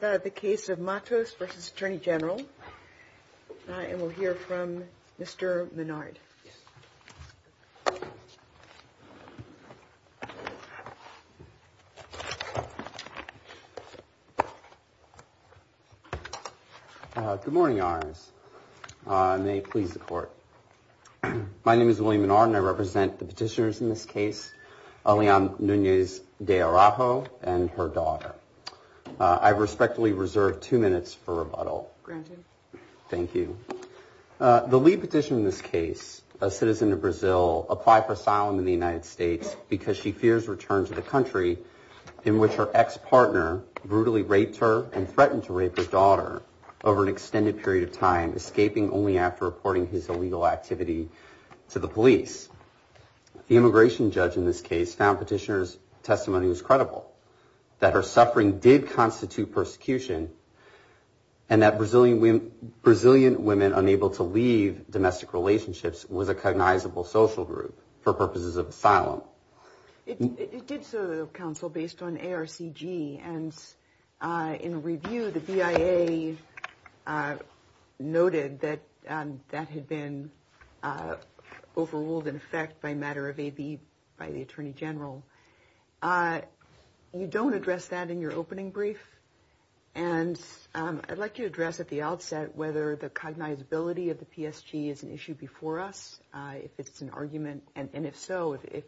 This is the case of Matos v. Attorney General, and we'll hear from Mr. Menard. Good morning, Your Honors. May it please the Court. My name is William Menard, and I represent the petitioners in this case, Alianne Nunes de Araujo and her daughter. I respectfully reserve two minutes for rebuttal. Granted. Thank you. The lead petitioner in this case, a citizen of Brazil, applied for asylum in the United States because she fears return to the country in which her ex-partner brutally raped her and threatened to rape her daughter over an extended period of time, escaping only after reporting his illegal activity to the police. The immigration judge in this case found petitioner's testimony was credible, that her suffering did constitute persecution, and that Brazilian women unable to leave domestic relationships was a cognizable social group for purposes of asylum. It did serve counsel based on ARCG, and in review, the BIA noted that that had been overruled in effect by matter of AB by the Attorney General. You don't address that in your opening brief, and I'd like you to address at the outset whether the cognizability of the PSG is an issue before us, if it's an argument, and if so, if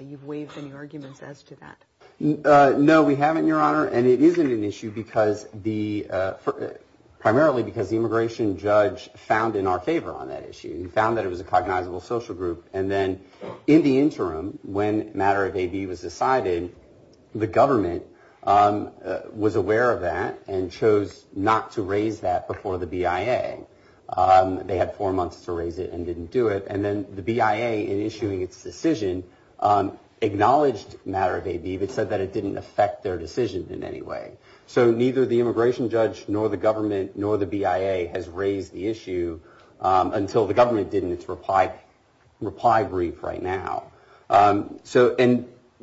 you've waived any arguments as to that. No, we haven't, Your Honor, and it isn't an issue because the, primarily because the immigration judge found in our favor on that issue. He found that it was a cognizable social group, and then in the interim, when matter of AB was decided, the government was aware of that and chose not to raise that before the BIA. They had four months to raise it and didn't do it, and then the BIA, in issuing its decision, acknowledged matter of AB, but said that it didn't affect their decision in any way. So neither the immigration judge nor the government nor the BIA has raised the issue until the government did in its reply brief right now. And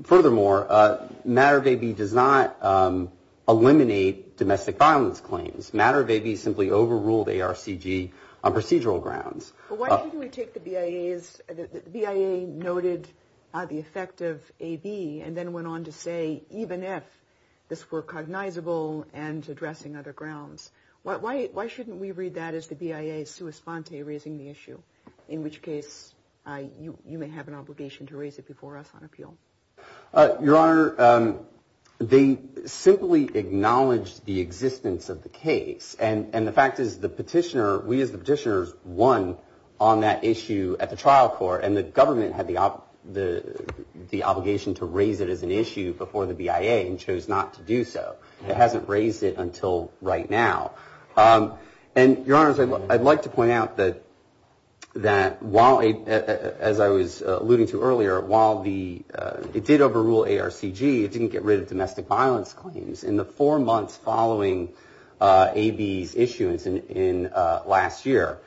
furthermore, matter of AB does not eliminate domestic violence claims. Matter of AB simply overruled ARCG on procedural grounds. But why didn't we take the BIA's, the BIA noted the effect of AB and then went on to say even if this were cognizable and addressing other grounds, why shouldn't we read that as the BIA's sua sponte raising the issue, in which case you may have an obligation to raise it before us on appeal? Your Honor, they simply acknowledged the existence of the case, and the fact is the petitioner, we as the petitioners won on that issue at the trial court and the government had the obligation to raise it as an issue before the BIA and chose not to do so. It hasn't raised it until right now. And, Your Honor, I'd like to point out that while, as I was alluding to earlier, while it did overrule ARCG, it didn't get rid of domestic violence claims. In the four months following AB's issuance last year,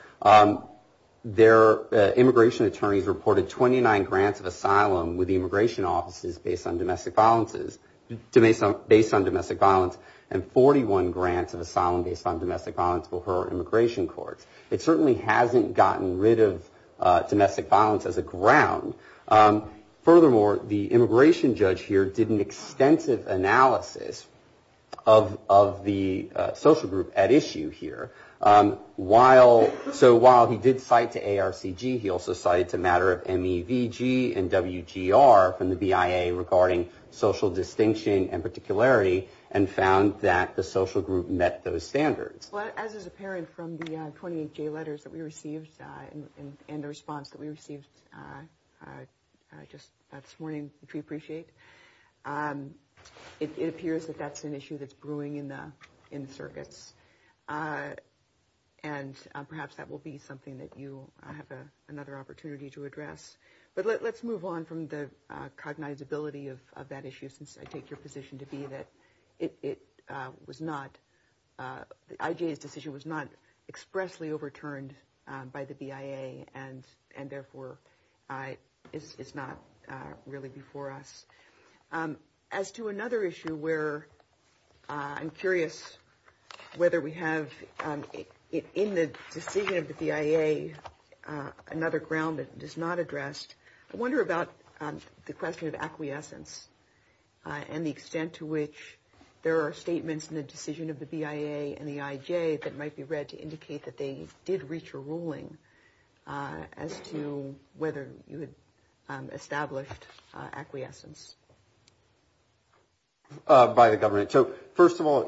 their immigration attorneys reported 29 grants of asylum with the immigration offices based on domestic violence and 41 grants of asylum based on domestic violence for her immigration courts. It certainly hasn't gotten rid of domestic violence as a ground. Furthermore, the immigration judge here did an extensive analysis of the social group at issue here. So while he did cite to ARCG, he also cited to matter of MEVG and WGR from the BIA regarding social distinction and particularity and found that the social group met those standards. Well, as is apparent from the 28-J letters that we received and the response that we received just this morning, which we appreciate, it appears that that's an issue that's brewing in the circuits. And perhaps that will be something that you have another opportunity to address. But let's move on from the cognizability of that issue, since I take your position to be that it was not, IJ's decision was not expressly overturned by the BIA and therefore is not really before us. As to another issue where I'm curious whether we have in the decision of the BIA, another ground that is not addressed. I wonder about the question of acquiescence and the extent to which there are statements in the decision of the BIA and the IJ that might be read to indicate that they did reach a ruling as to whether you had established acquiescence. By the government. So first of all,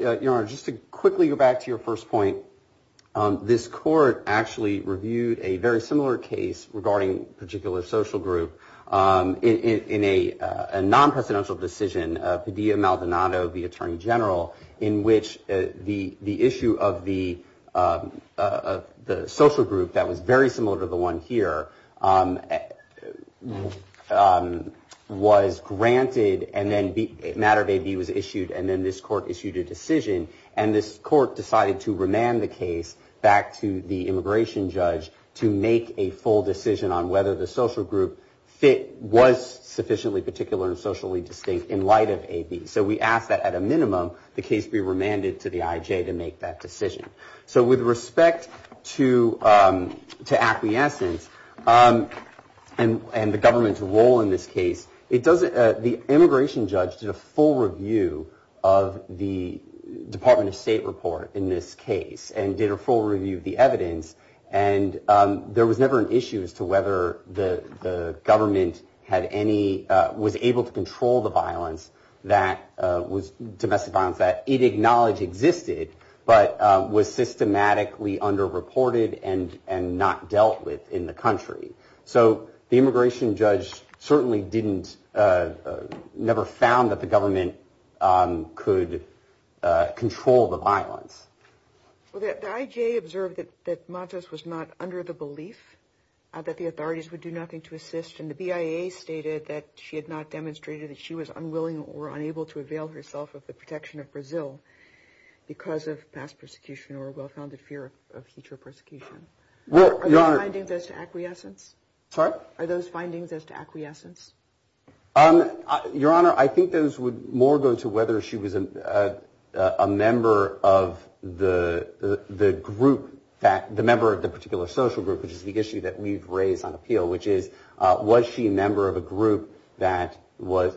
just to quickly go back to your first point, this court actually reviewed a very similar case regarding a particular social group. In a non-presidential decision, Padilla-Maldonado, the attorney general, in which the issue of the social group that was very similar to the one here was granted and then a matter of AB was issued and then this court issued a decision. And this court decided to remand the case back to the immigration judge to make a full decision on whether the social group was sufficiently particular and socially distinct in light of AB. So we ask that at a minimum the case be remanded to the IJ to make that decision. So with respect to acquiescence and the government's role in this case, the immigration judge did a full review of the Department of State report in this case and did a full review of the evidence and there was never an issue as to whether the government was able to control the domestic violence that it acknowledged existed but was systematically underreported and not dealt with in the country. So the immigration judge certainly never found that the government could control the violence. The IJ observed that Matos was not under the belief that the authorities would do nothing to assist and the BIA stated that she had not demonstrated that she was unwilling or unable to avail herself of the protection of Brazil because of past persecution or a well-founded fear of future persecution. Are those findings as to acquiescence? Your Honor, I think those would more go to whether she was a member of the group, the member of the particular social group, which is the issue that we've raised on appeal, which is was she a member of a group that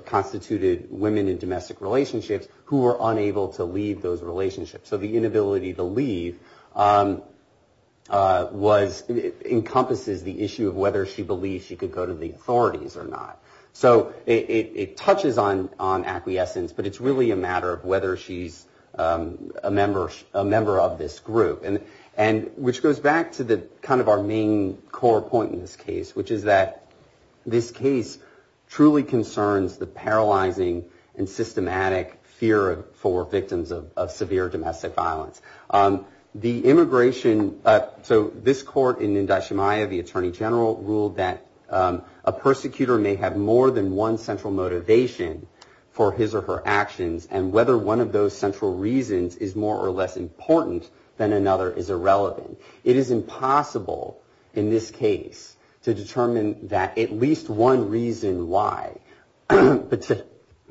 constituted women in domestic relationships who were unable to leave those relationships. So the inability to leave encompasses the issue of whether she believed she could go to the authorities or not. So it touches on acquiescence, but it's really a matter of whether she's a member of this group, which goes back to kind of our main core point in this case, which is that this case truly concerns the paralyzing and systematic fear for victims of severe domestic violence. The immigration, so this court in Indachimaya, the Attorney General, ruled that a persecutor may have more than one central motivation for his or her actions and whether one of those central reasons is more or less important than another is irrelevant. It is impossible in this case to determine that at least one reason why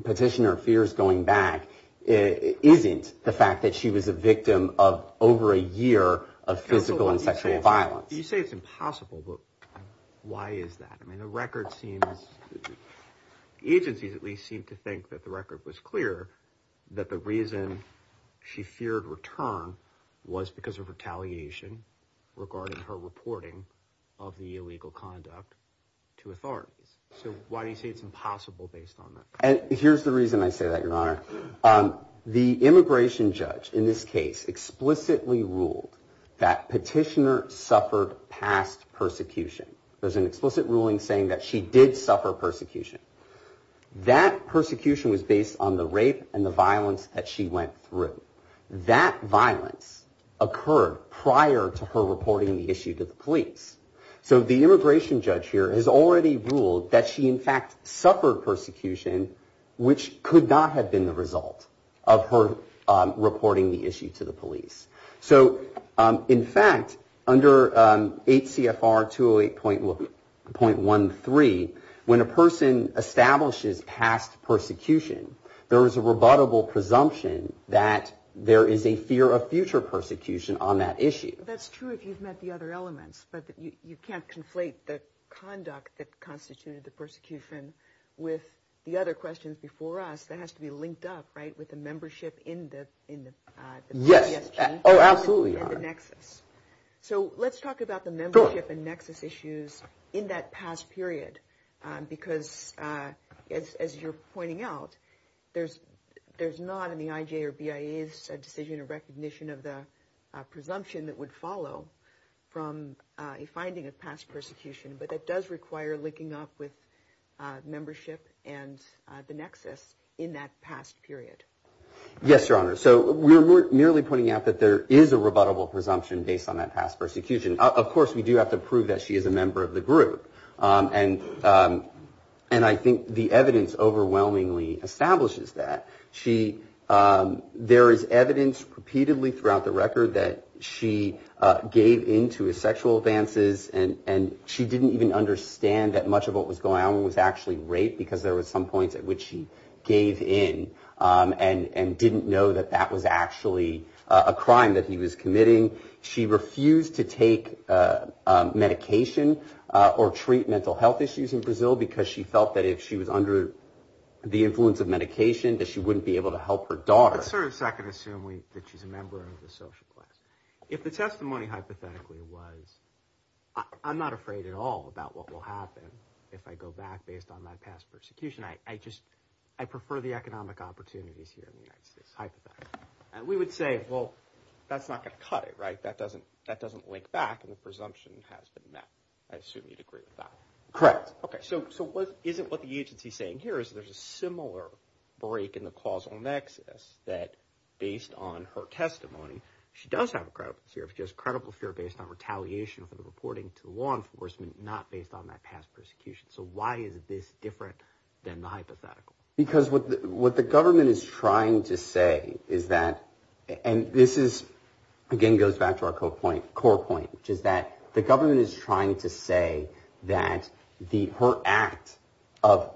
petitioner fears going back isn't the fact that she was a victim of over a year of physical and sexual violence. You say it's impossible, but why is that? The agencies at least seem to think that the record was clear that the reason she feared return was because of retaliation regarding her reporting of the illegal conduct to authorities. So why do you say it's impossible based on that? Here's the reason I say that, Your Honor. The immigration judge in this case explicitly ruled that petitioner suffered past persecution. There's an explicit ruling saying that she did suffer persecution. That persecution was based on the rape and the violence that she went through. That violence occurred prior to her reporting the issue to the police. So the immigration judge here has already ruled that she in fact suffered persecution, which could not have been the result of her reporting the issue to the police. So in fact, under 8 CFR 208.13, when a person establishes past persecution, there is a rebuttable presumption that there is a fear of future persecution on that issue. That's true if you've met the other elements, but you can't conflate the conduct that constituted the persecution with the other questions before us. That has to be linked up with the membership in the Nexus. So let's talk about the membership and Nexus issues in that past period, because as you're pointing out, there's not in the IJ or BIA's decision or recognition of the presumption that would follow from a finding of past persecution. But that does require linking up with membership and the Nexus in that past period. Yes, Your Honor. So we're merely pointing out that there is a rebuttable presumption based on that past persecution. Of course, we do have to prove that she is a member of the group. And I think the evidence overwhelmingly establishes that. There is evidence repeatedly throughout the record that she gave in to his sexual advances, and she didn't even understand that much of what was going on was actually rape, because there was some points at which she gave in and didn't know that that was actually a crime that he was committing. She refused to take medication or treat mental health issues in Brazil, because she felt that if she was under the influence of medication, that she wouldn't be able to do that. Let's sort of second-assume that she's a member of the social class. If the testimony hypothetically was, I'm not afraid at all about what will happen if I go back based on my past persecution. I prefer the economic opportunities here in the United States, hypothetically. We would say, well, that's not going to cut it, right? That doesn't link back, and the presumption has been met. I assume you'd agree with that. Correct. Okay, so isn't what the agency is saying here is there's a similar break in the causal nexus that based on her testimony, she does have a credible fear, but she has a credible fear based on retaliation for the reporting to law enforcement, not based on that past persecution. So why is this different than the hypothetical? Because what the government is trying to say is that, and this is, again, goes back to our core point, which is that the government is trying to say that her act of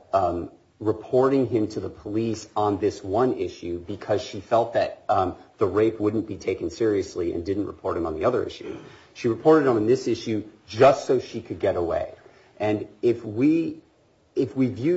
reporting him to the police on this one issue, because she felt that the rape wouldn't be taken seriously and didn't report him on the other issue. She reported him on this issue just so she could get away. So the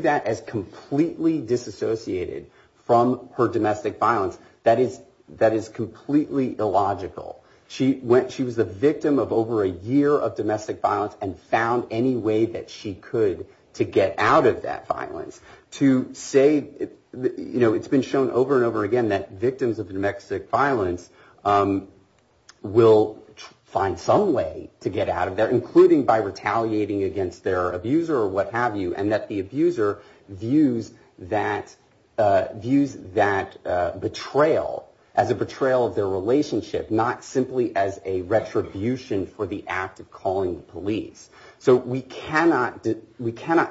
fact that she was completely disassociated from her domestic violence, that is completely illogical. She was a victim of over a year of domestic violence and found any way that she could to get out of that violence. To say, you know, it's been shown over and over again that victims of domestic violence will find some way to get out of there, including by retaliating against their abuser or what have you, and that the abuser views that as a way to get away. She views that betrayal as a betrayal of their relationship, not simply as a retribution for the act of calling the police. So we cannot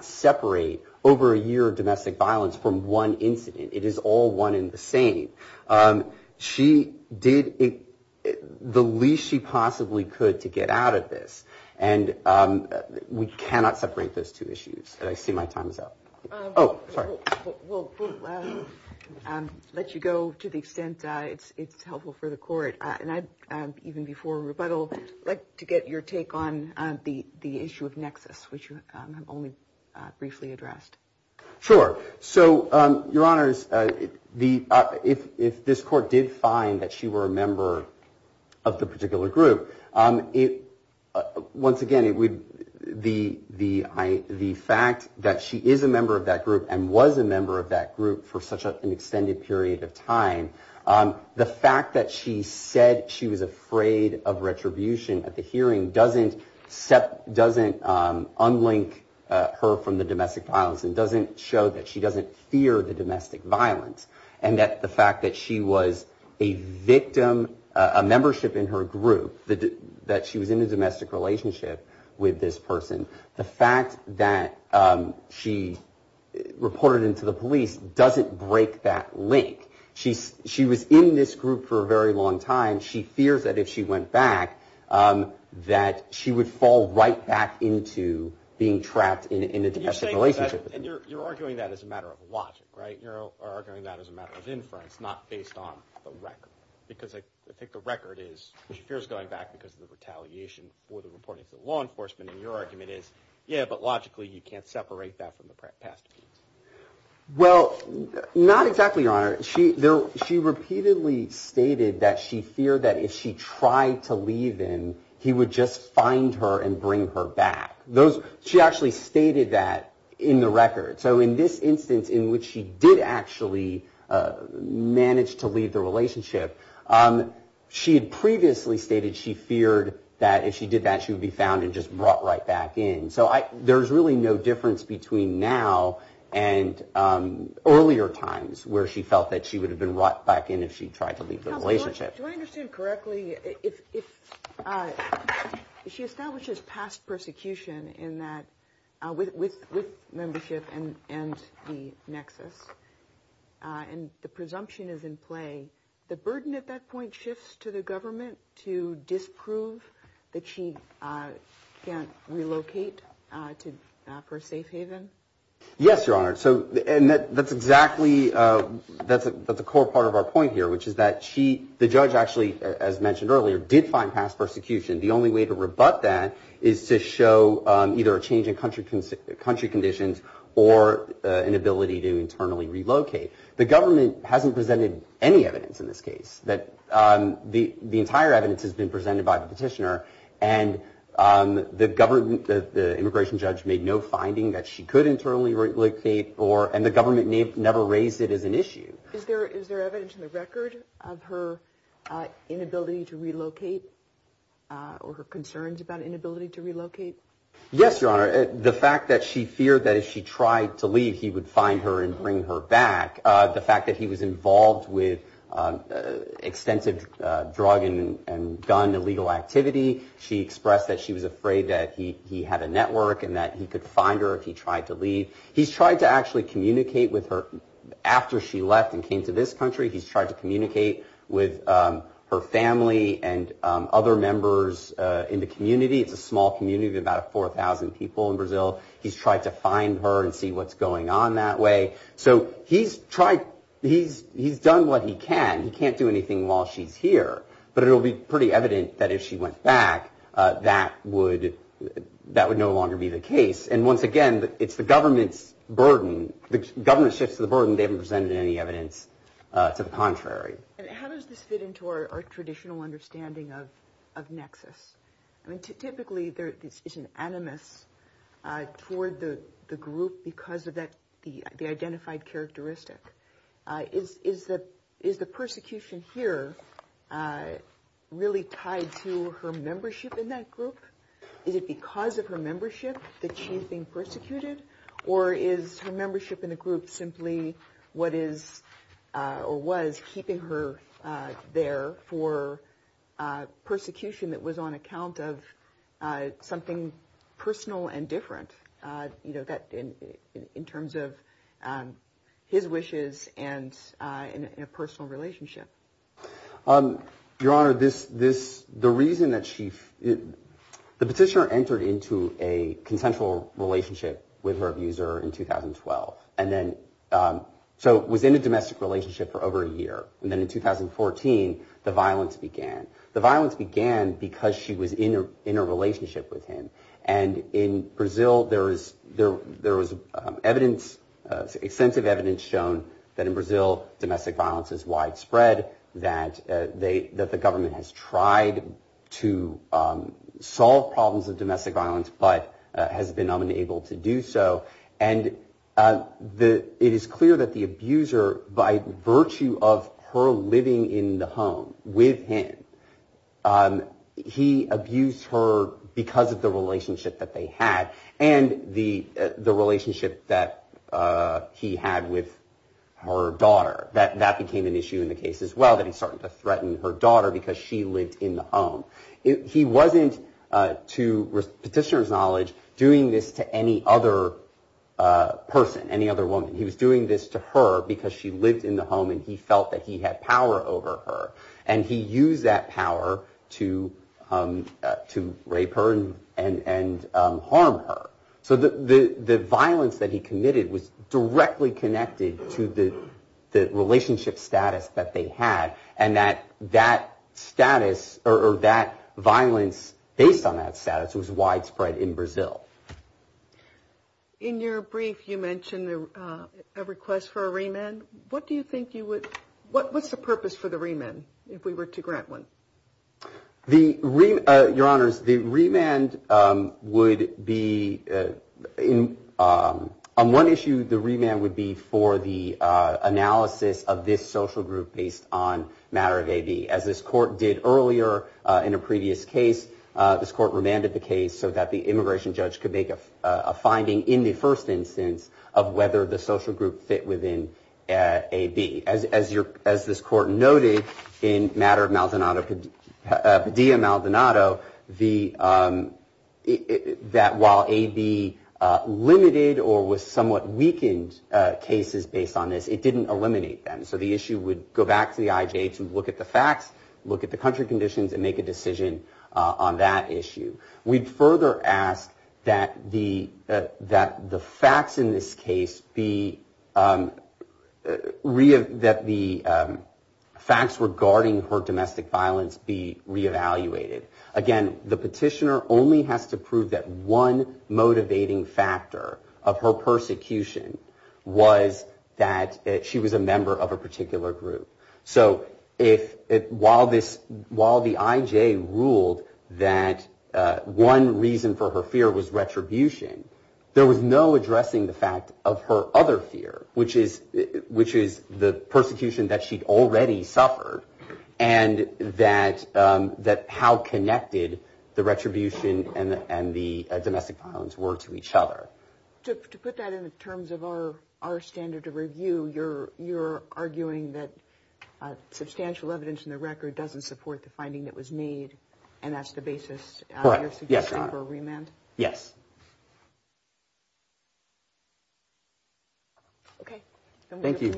separate over a year of domestic violence from one incident. It is all one and the same. She did the least she possibly could to get out of this, and we cannot separate those two issues. And I see my time is up. I'll let you go to the extent it's helpful for the court. And even before rebuttal, I'd like to get your take on the issue of nexus, which you have only briefly addressed. Sure. So, Your Honors, if this court did find that she were a member of the particular group, once again, the fact that she is a member of that group and was a member of that group for such an extended period of time, the fact that she said she was afraid of retribution at the hearing doesn't unlink her from the domestic violence and doesn't show that she doesn't fear the domestic violence. And that the fact that she was a victim, a membership in her group, that she was in a domestic relationship, doesn't unlink her from the domestic violence. The fact that she reported it to the police doesn't break that link. She was in this group for a very long time. She fears that if she went back, that she would fall right back into being trapped in a domestic relationship. And you're arguing that as a matter of logic, right? You're arguing that as a matter of inference, not based on the record. Because I think the record is, she fears going back because of the retaliation for the reporting to the law enforcement. And your argument is, yeah, but logically you can't separate that from the past. Well, not exactly, Your Honor. She repeatedly stated that she feared that if she tried to leave him, he would just find her and bring her back. She actually stated that in the record. So in this instance in which she did actually manage to leave the relationship, she had previously stated she feared that if she did that, she would be found and just brought right back in. So there's really no difference between now and earlier times where she felt that she would have been brought back in if she tried to leave the relationship. Do I understand correctly, if she establishes past persecution in that, with membership and the nexus, and the presumption is in play, the burden at that point shifts to the government to disprove that she can't relocate to her safe haven? Yes, Your Honor. And that's exactly, that's a core part of our point here. Which is that she, the judge actually, as mentioned earlier, did find past persecution. The only way to rebut that is to show either a change in country conditions or an ability to internally relocate. The government hasn't presented any evidence in this case. The entire evidence has been presented by the petitioner. And the immigration judge made no finding that she could internally relocate. And the government never raised it as an issue. Is there evidence in the record of her inability to relocate or her concerns about inability to relocate? Yes, Your Honor. The fact that she feared that if she tried to leave, he would find her and bring her back. The fact that he was involved with extensive drug and gun illegal activity. She expressed that she was afraid that he had a network and that he could find her if he tried to leave. He's tried to actually communicate with her after she left and came to this country. He's tried to communicate with her family and other members in the community. It's a small community, about 4,000 people in Brazil. He's tried to find her and see what's going on that way. So he's done what he can. He can't do anything while she's here. But it'll be pretty evident that if she went back, that would that would no longer be the case. And once again, it's the government's burden. The government shifts the burden. They haven't presented any evidence to the contrary. How does this fit into our traditional understanding of of nexus? I mean, typically there is an animus toward the group because of that. The identified characteristic is that is the persecution here really tied to her membership in that group? Is it because of her membership that she's being persecuted or is her membership in the group simply what is or was keeping her there for persecution that was on account of something personal and different? You know, that in terms of his wishes and in a personal relationship. Your Honor, this this the reason that she the petitioner entered into a consensual relationship with her abuser in 2012. And then so was in a domestic relationship for over a year. And then in 2014, the violence began. The violence began because she was in a relationship with him. And in Brazil, there is there there is evidence, extensive evidence shown that in Brazil, domestic violence is widespread, that they that the government has tried to solve problems of domestic violence, but has been unable to do so. And it is clear that the abuser, by virtue of her living in the home with him, he abused her because of the relationship that they had and the the relationship that he had with her daughter. That that became an issue in the case as well, that he started to threaten her daughter because she lived in the home. He wasn't, to petitioner's knowledge, doing this to any other person, any other woman. He was doing this to her because she lived in the home and he felt that he had power over her. And he used that power to to rape her and harm her. So the violence that he committed was directly connected to the relationship status that they had. And that that status or that violence based on that status was widespread in Brazil. In your brief, you mentioned a request for a remand. What do you think you would what what's the purpose for the remand if we were to grant one? The your honors, the remand would be in on one issue. The remand would be for the analysis of this social group based on matter of a B, as this court did earlier. In a previous case, this court remanded the case so that the immigration judge could make a finding in the first instance of whether the social group fit within a B. As your as this court noted in matter of Maldonado, Padilla, Maldonado, the that while a B limited or was somewhat weakened cases based on this, it didn't eliminate them. So the issue would go back to the IJ to look at the facts, look at the country conditions and make a decision on that issue. We'd further ask that the that the facts in this case be that the facts regarding her domestic violence be reevaluated. Again, the petitioner only has to prove that one motivating factor of her persecution was that she was a member of a particular group. So if it while this while the IJ ruled that one reason for her fear was retribution, there was no addressing the fact of her other fear, which is which is the persecution that she'd already suffered. And that that how connected the retribution and the domestic violence were to each other. To put that in terms of our our standard of review, you're you're arguing that substantial evidence in the record doesn't support the finding that was made. And that's the basis. Yes. Yes. Thank you. Thank you.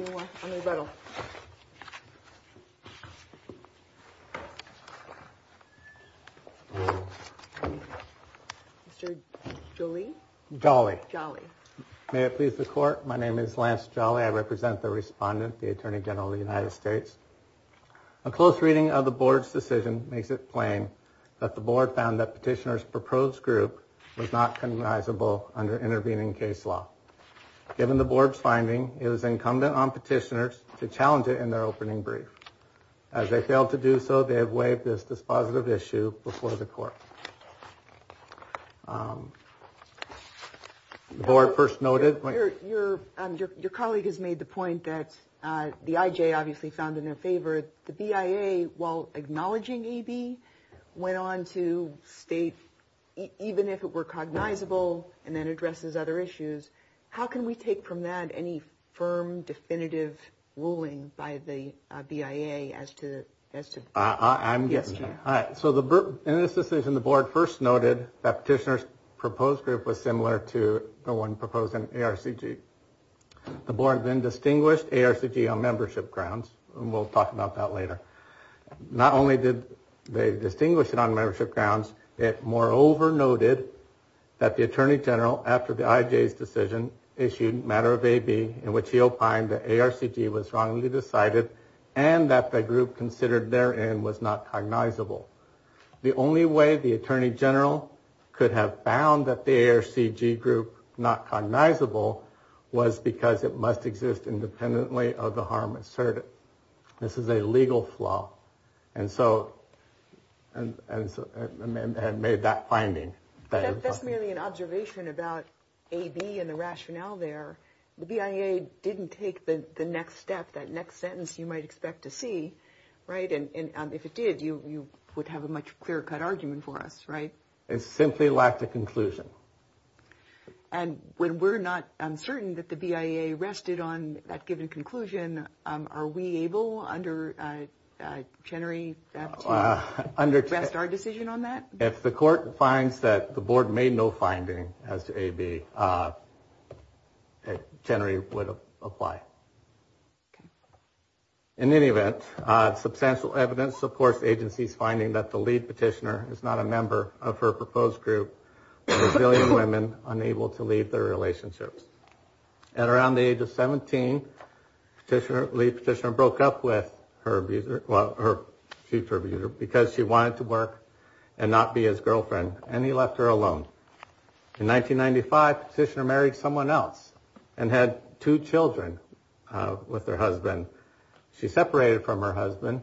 Julie Jolly Jolly. May it please the court. My name is Lance Jolly. I represent the respondent, the attorney general of the United States. A close reading of the board's decision makes it plain that the board found that petitioner's proposed group was not recognizable under intervening case law. Given the board's finding, it was incumbent on petitioners to challenge it in their opening brief. As they failed to do so, they have waived this dispositive issue before the court. The board first noted your your colleague has made the point that the IJ obviously found in their favor. The BIA, while acknowledging E.B., went on to state, even if it were cognizable and then addresses other issues. How can we take from that any firm definitive ruling by the BIA as to as to. I'm guessing. So the in this decision, the board first noted that petitioner's proposed group was similar to the one proposed in RCG. The board then distinguished ARCG on membership grounds. We'll talk about that later. Not only did they distinguish it on membership grounds, it moreover noted that the attorney general after the IJ's decision issued matter of a B in which he opined that ARCG was wrongly decided and that the group considered there and was not cognizable. The only way the attorney general could have found that the ARCG group not cognizable was because it must exist independently of the harm asserted. This is a legal flaw. And so and made that finding. That's merely an observation about a B and the rationale there. The BIA didn't take the next step. That next sentence you might expect to see. Right. And if it did, you would have a much clearer cut argument for us. Right. It simply lacked a conclusion. And when we're not uncertain that the BIA rested on that given conclusion, are we able under Chenery to rest our decision on that? If the court finds that the board made no finding as to a B, Chenery would apply. In any event, substantial evidence supports the agency's finding that the lead petitioner is not a member of her proposed group. There were a billion women unable to leave their relationships. At around the age of 17, the lead petitioner broke up with her future abuser because she wanted to work and not be his girlfriend and he left her alone. In 1995, petitioner married someone else and had two children with their husband. She separated from her husband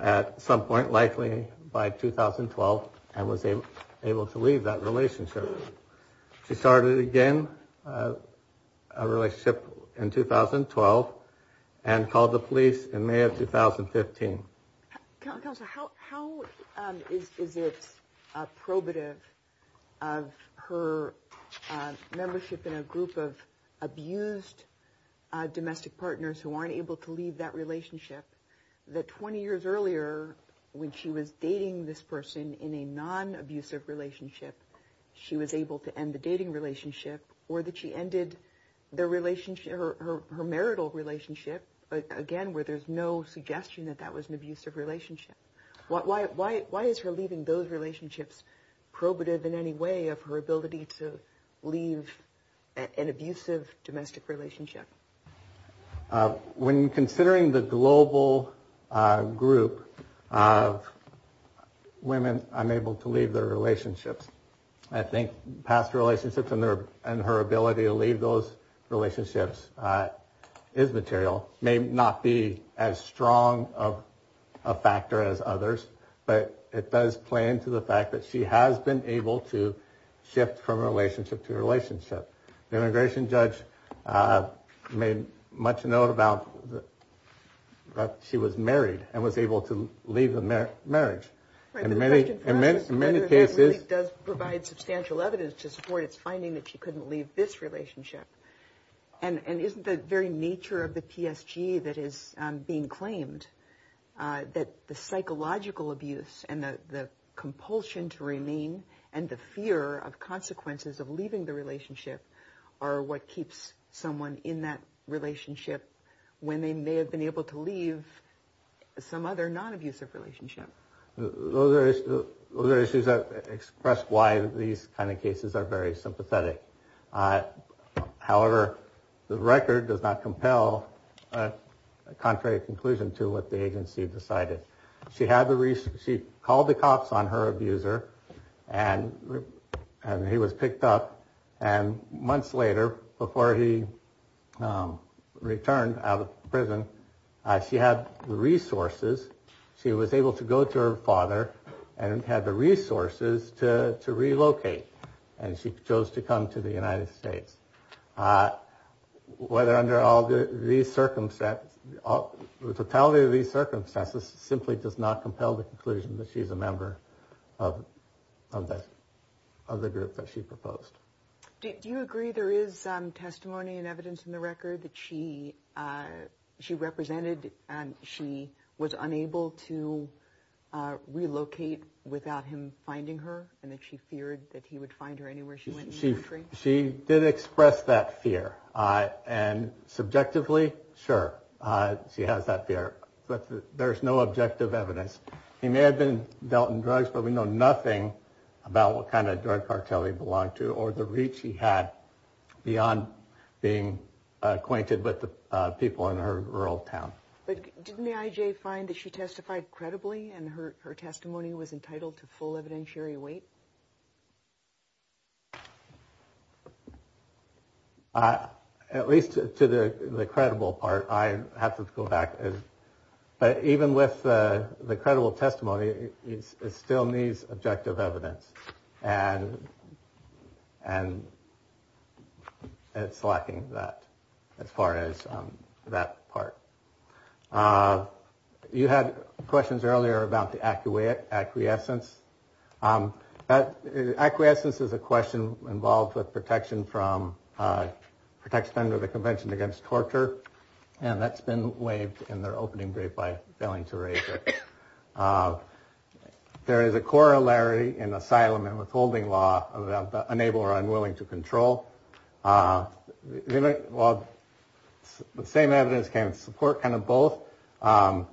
at some point, likely by 2012, and was able to leave that relationship. She started again a relationship in 2012 and called the police in May of 2015. Counsel, how is it probative of her membership in a group of abused domestic partners who aren't able to leave that relationship that 20 years earlier, when she was dating this person in a non-abusive relationship, she was able to end the dating relationship or that she ended her marital relationship, again, where there's no suggestion that that was an abusive relationship? Why is her leaving those relationships probative in any way of her ability to leave an abusive domestic relationship? When considering the global group of women unable to leave their relationships, I think past relationships and her ability to leave those relationships is material, may not be as strong of an issue. But it does play into the fact that she has been able to shift from relationship to relationship. The immigration judge made much note that she was married and was able to leave the marriage. In many cases... that the psychological abuse and the compulsion to remain and the fear of consequences of leaving the relationship are what keeps someone in that relationship when they may have been able to leave some other non-abusive relationship. Those are issues that express why these kind of cases are very sympathetic. However, the record does not compel a contrary conclusion to what the agency decided. She called the cops on her abuser and he was picked up. And months later, before he returned out of prison, she had the resources. She was able to go to her father and had the resources to relocate. And she chose to come to the United States. The totality of these circumstances simply does not compel the conclusion that she is a member of the group that she proposed. Do you agree there is testimony and evidence in the record that she represented and she was unable to relocate without him finding her? And that she feared that he would find her anywhere she went in the country? She did express that fear. And subjectively, sure, she has that fear. But there is no objective evidence. He may have been dealt in drugs, but we know nothing about what kind of drug cartel he belonged to or the reach he had beyond being acquainted with the people in her rural town. But didn't the IJ find that she testified credibly and her testimony was entitled to full evidentiary weight? At least to the credible part, I have to go back. But even with the credible testimony, it still needs objective evidence. And it's lacking that as far as that part. You had questions earlier about the accurate acquiescence. Acquiescence is a question involved with protection from protection under the Convention Against Torture. And that's been waived in their opening by failing to raise it. There is a corollary in asylum and withholding law of the unable or unwilling to control. Well, the same evidence can support kind of both while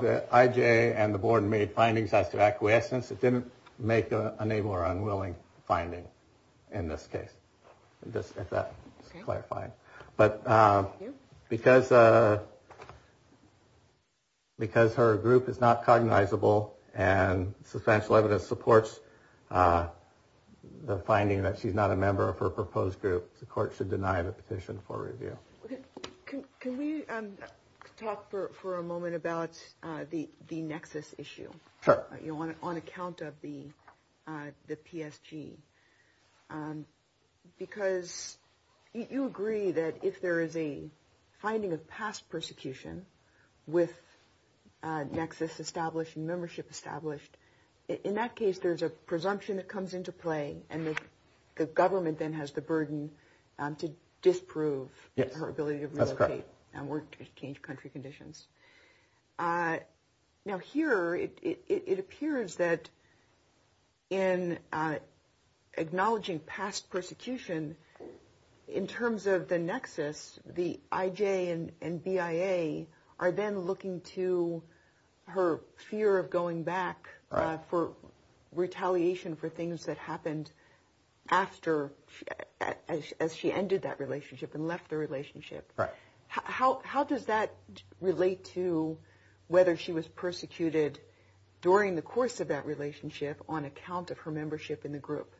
the IJ and the board made findings as to acquiescence. It didn't make a name or unwilling finding in this case. But because because her group is not cognizable and substantial evidence supports the finding that she's not a member of her proposed group. And that's why the board should deny the petition for review. Can we talk for a moment about the Nexus issue on account of the PSG? Because you agree that if there is a finding of past persecution with Nexus established membership established, in that case, there's a presumption that comes into play. And the government then has the burden to disprove her ability to relocate and work to change country conditions. Now, here it appears that in acknowledging past persecution in terms of the Nexus, the IJ and BIA are then looking to her fear of going back. For retaliation for things that happened after as she ended that relationship and left the relationship. How does that relate to whether she was persecuted during the course of that relationship on account of her membership in the group?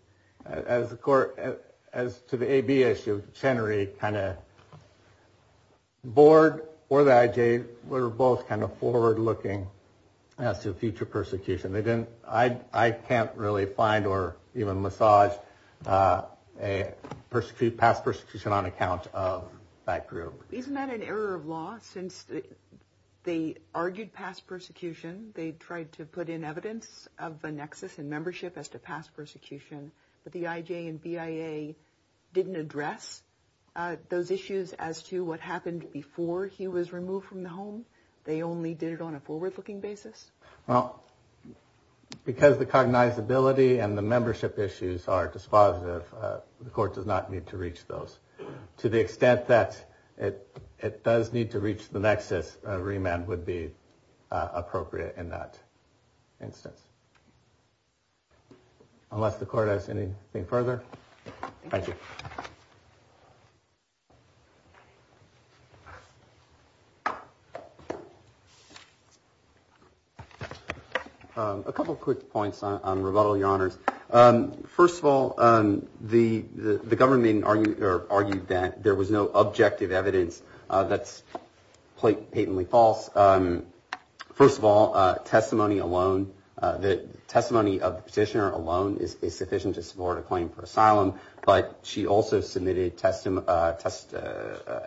As the court as to the AB issue, Chenery kind of board or the IJ. We're both kind of forward looking as to future persecution. I can't really find or even massage a past persecution on account of that group. Isn't that an error of law since they argued past persecution? They tried to put in evidence of the Nexus and membership as to past persecution. But the IJ and BIA didn't address those issues as to what happened before he was removed from the home. They only did it on a forward looking basis. Because the cognizability and the membership issues are dispositive, the court does not need to reach those. To the extent that it does need to reach the Nexus, a remand would be appropriate in that instance. Unless the court has anything further. A couple of quick points on rebuttal, your honors. First of all, the government argued that there was no objective evidence that's patently false. First of all, testimony alone, the testimony of the petitioner alone is sufficient to support a claim for asylum. But she also submitted test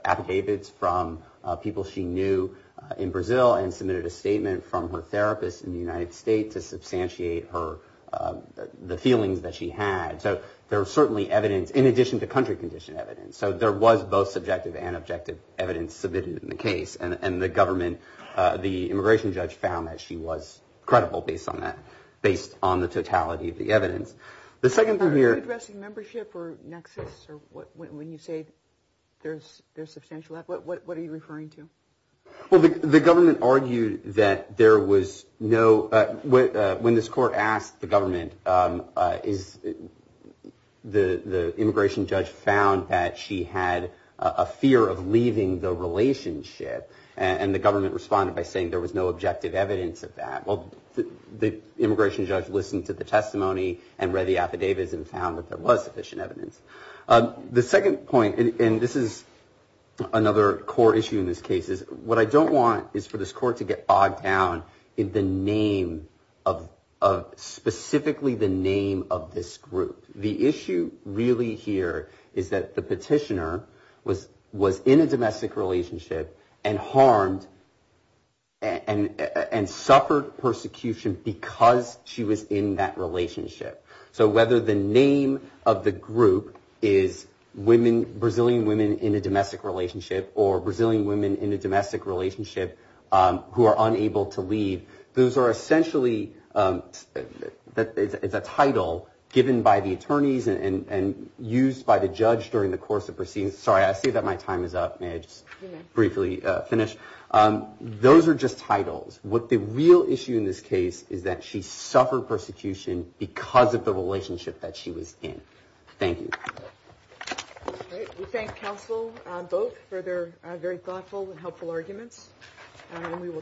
affidavits from people she knew in Brazil. And submitted a statement from her therapist in the United States to substantiate the feelings that she had. So there was certainly evidence, in addition to country condition evidence. So there was both subjective and objective evidence submitted in the case. And the government, the immigration judge, found that she was credible based on that, based on the totality of the evidence. The second thing here... When you say there's substantial evidence, what are you referring to? Well, the government argued that there was no... When this court asked the government, the immigration judge found that she had a fear of leaving the relationship. And the government responded by saying there was no objective evidence of that. Well, the immigration judge listened to the testimony and read the affidavits and found that there was sufficient evidence. The second point, and this is another core issue in this case, is what I don't want is for this court to get bogged down in the name of... Specifically the name of this group. The issue really here is that the petitioner was in a domestic relationship and harmed... And suffered persecution because she was in that relationship. So whether the name of the group is Brazilian women in a domestic relationship or Brazilian women in a domestic relationship who are unable to leave, those are essentially... It's a title given by the attorneys and used by the judge during the course of proceedings. Sorry, I see that my time is up. May I just briefly finish? Those are just titles. What the real issue in this case is that she suffered persecution because of the relationship that she was in. Thank you.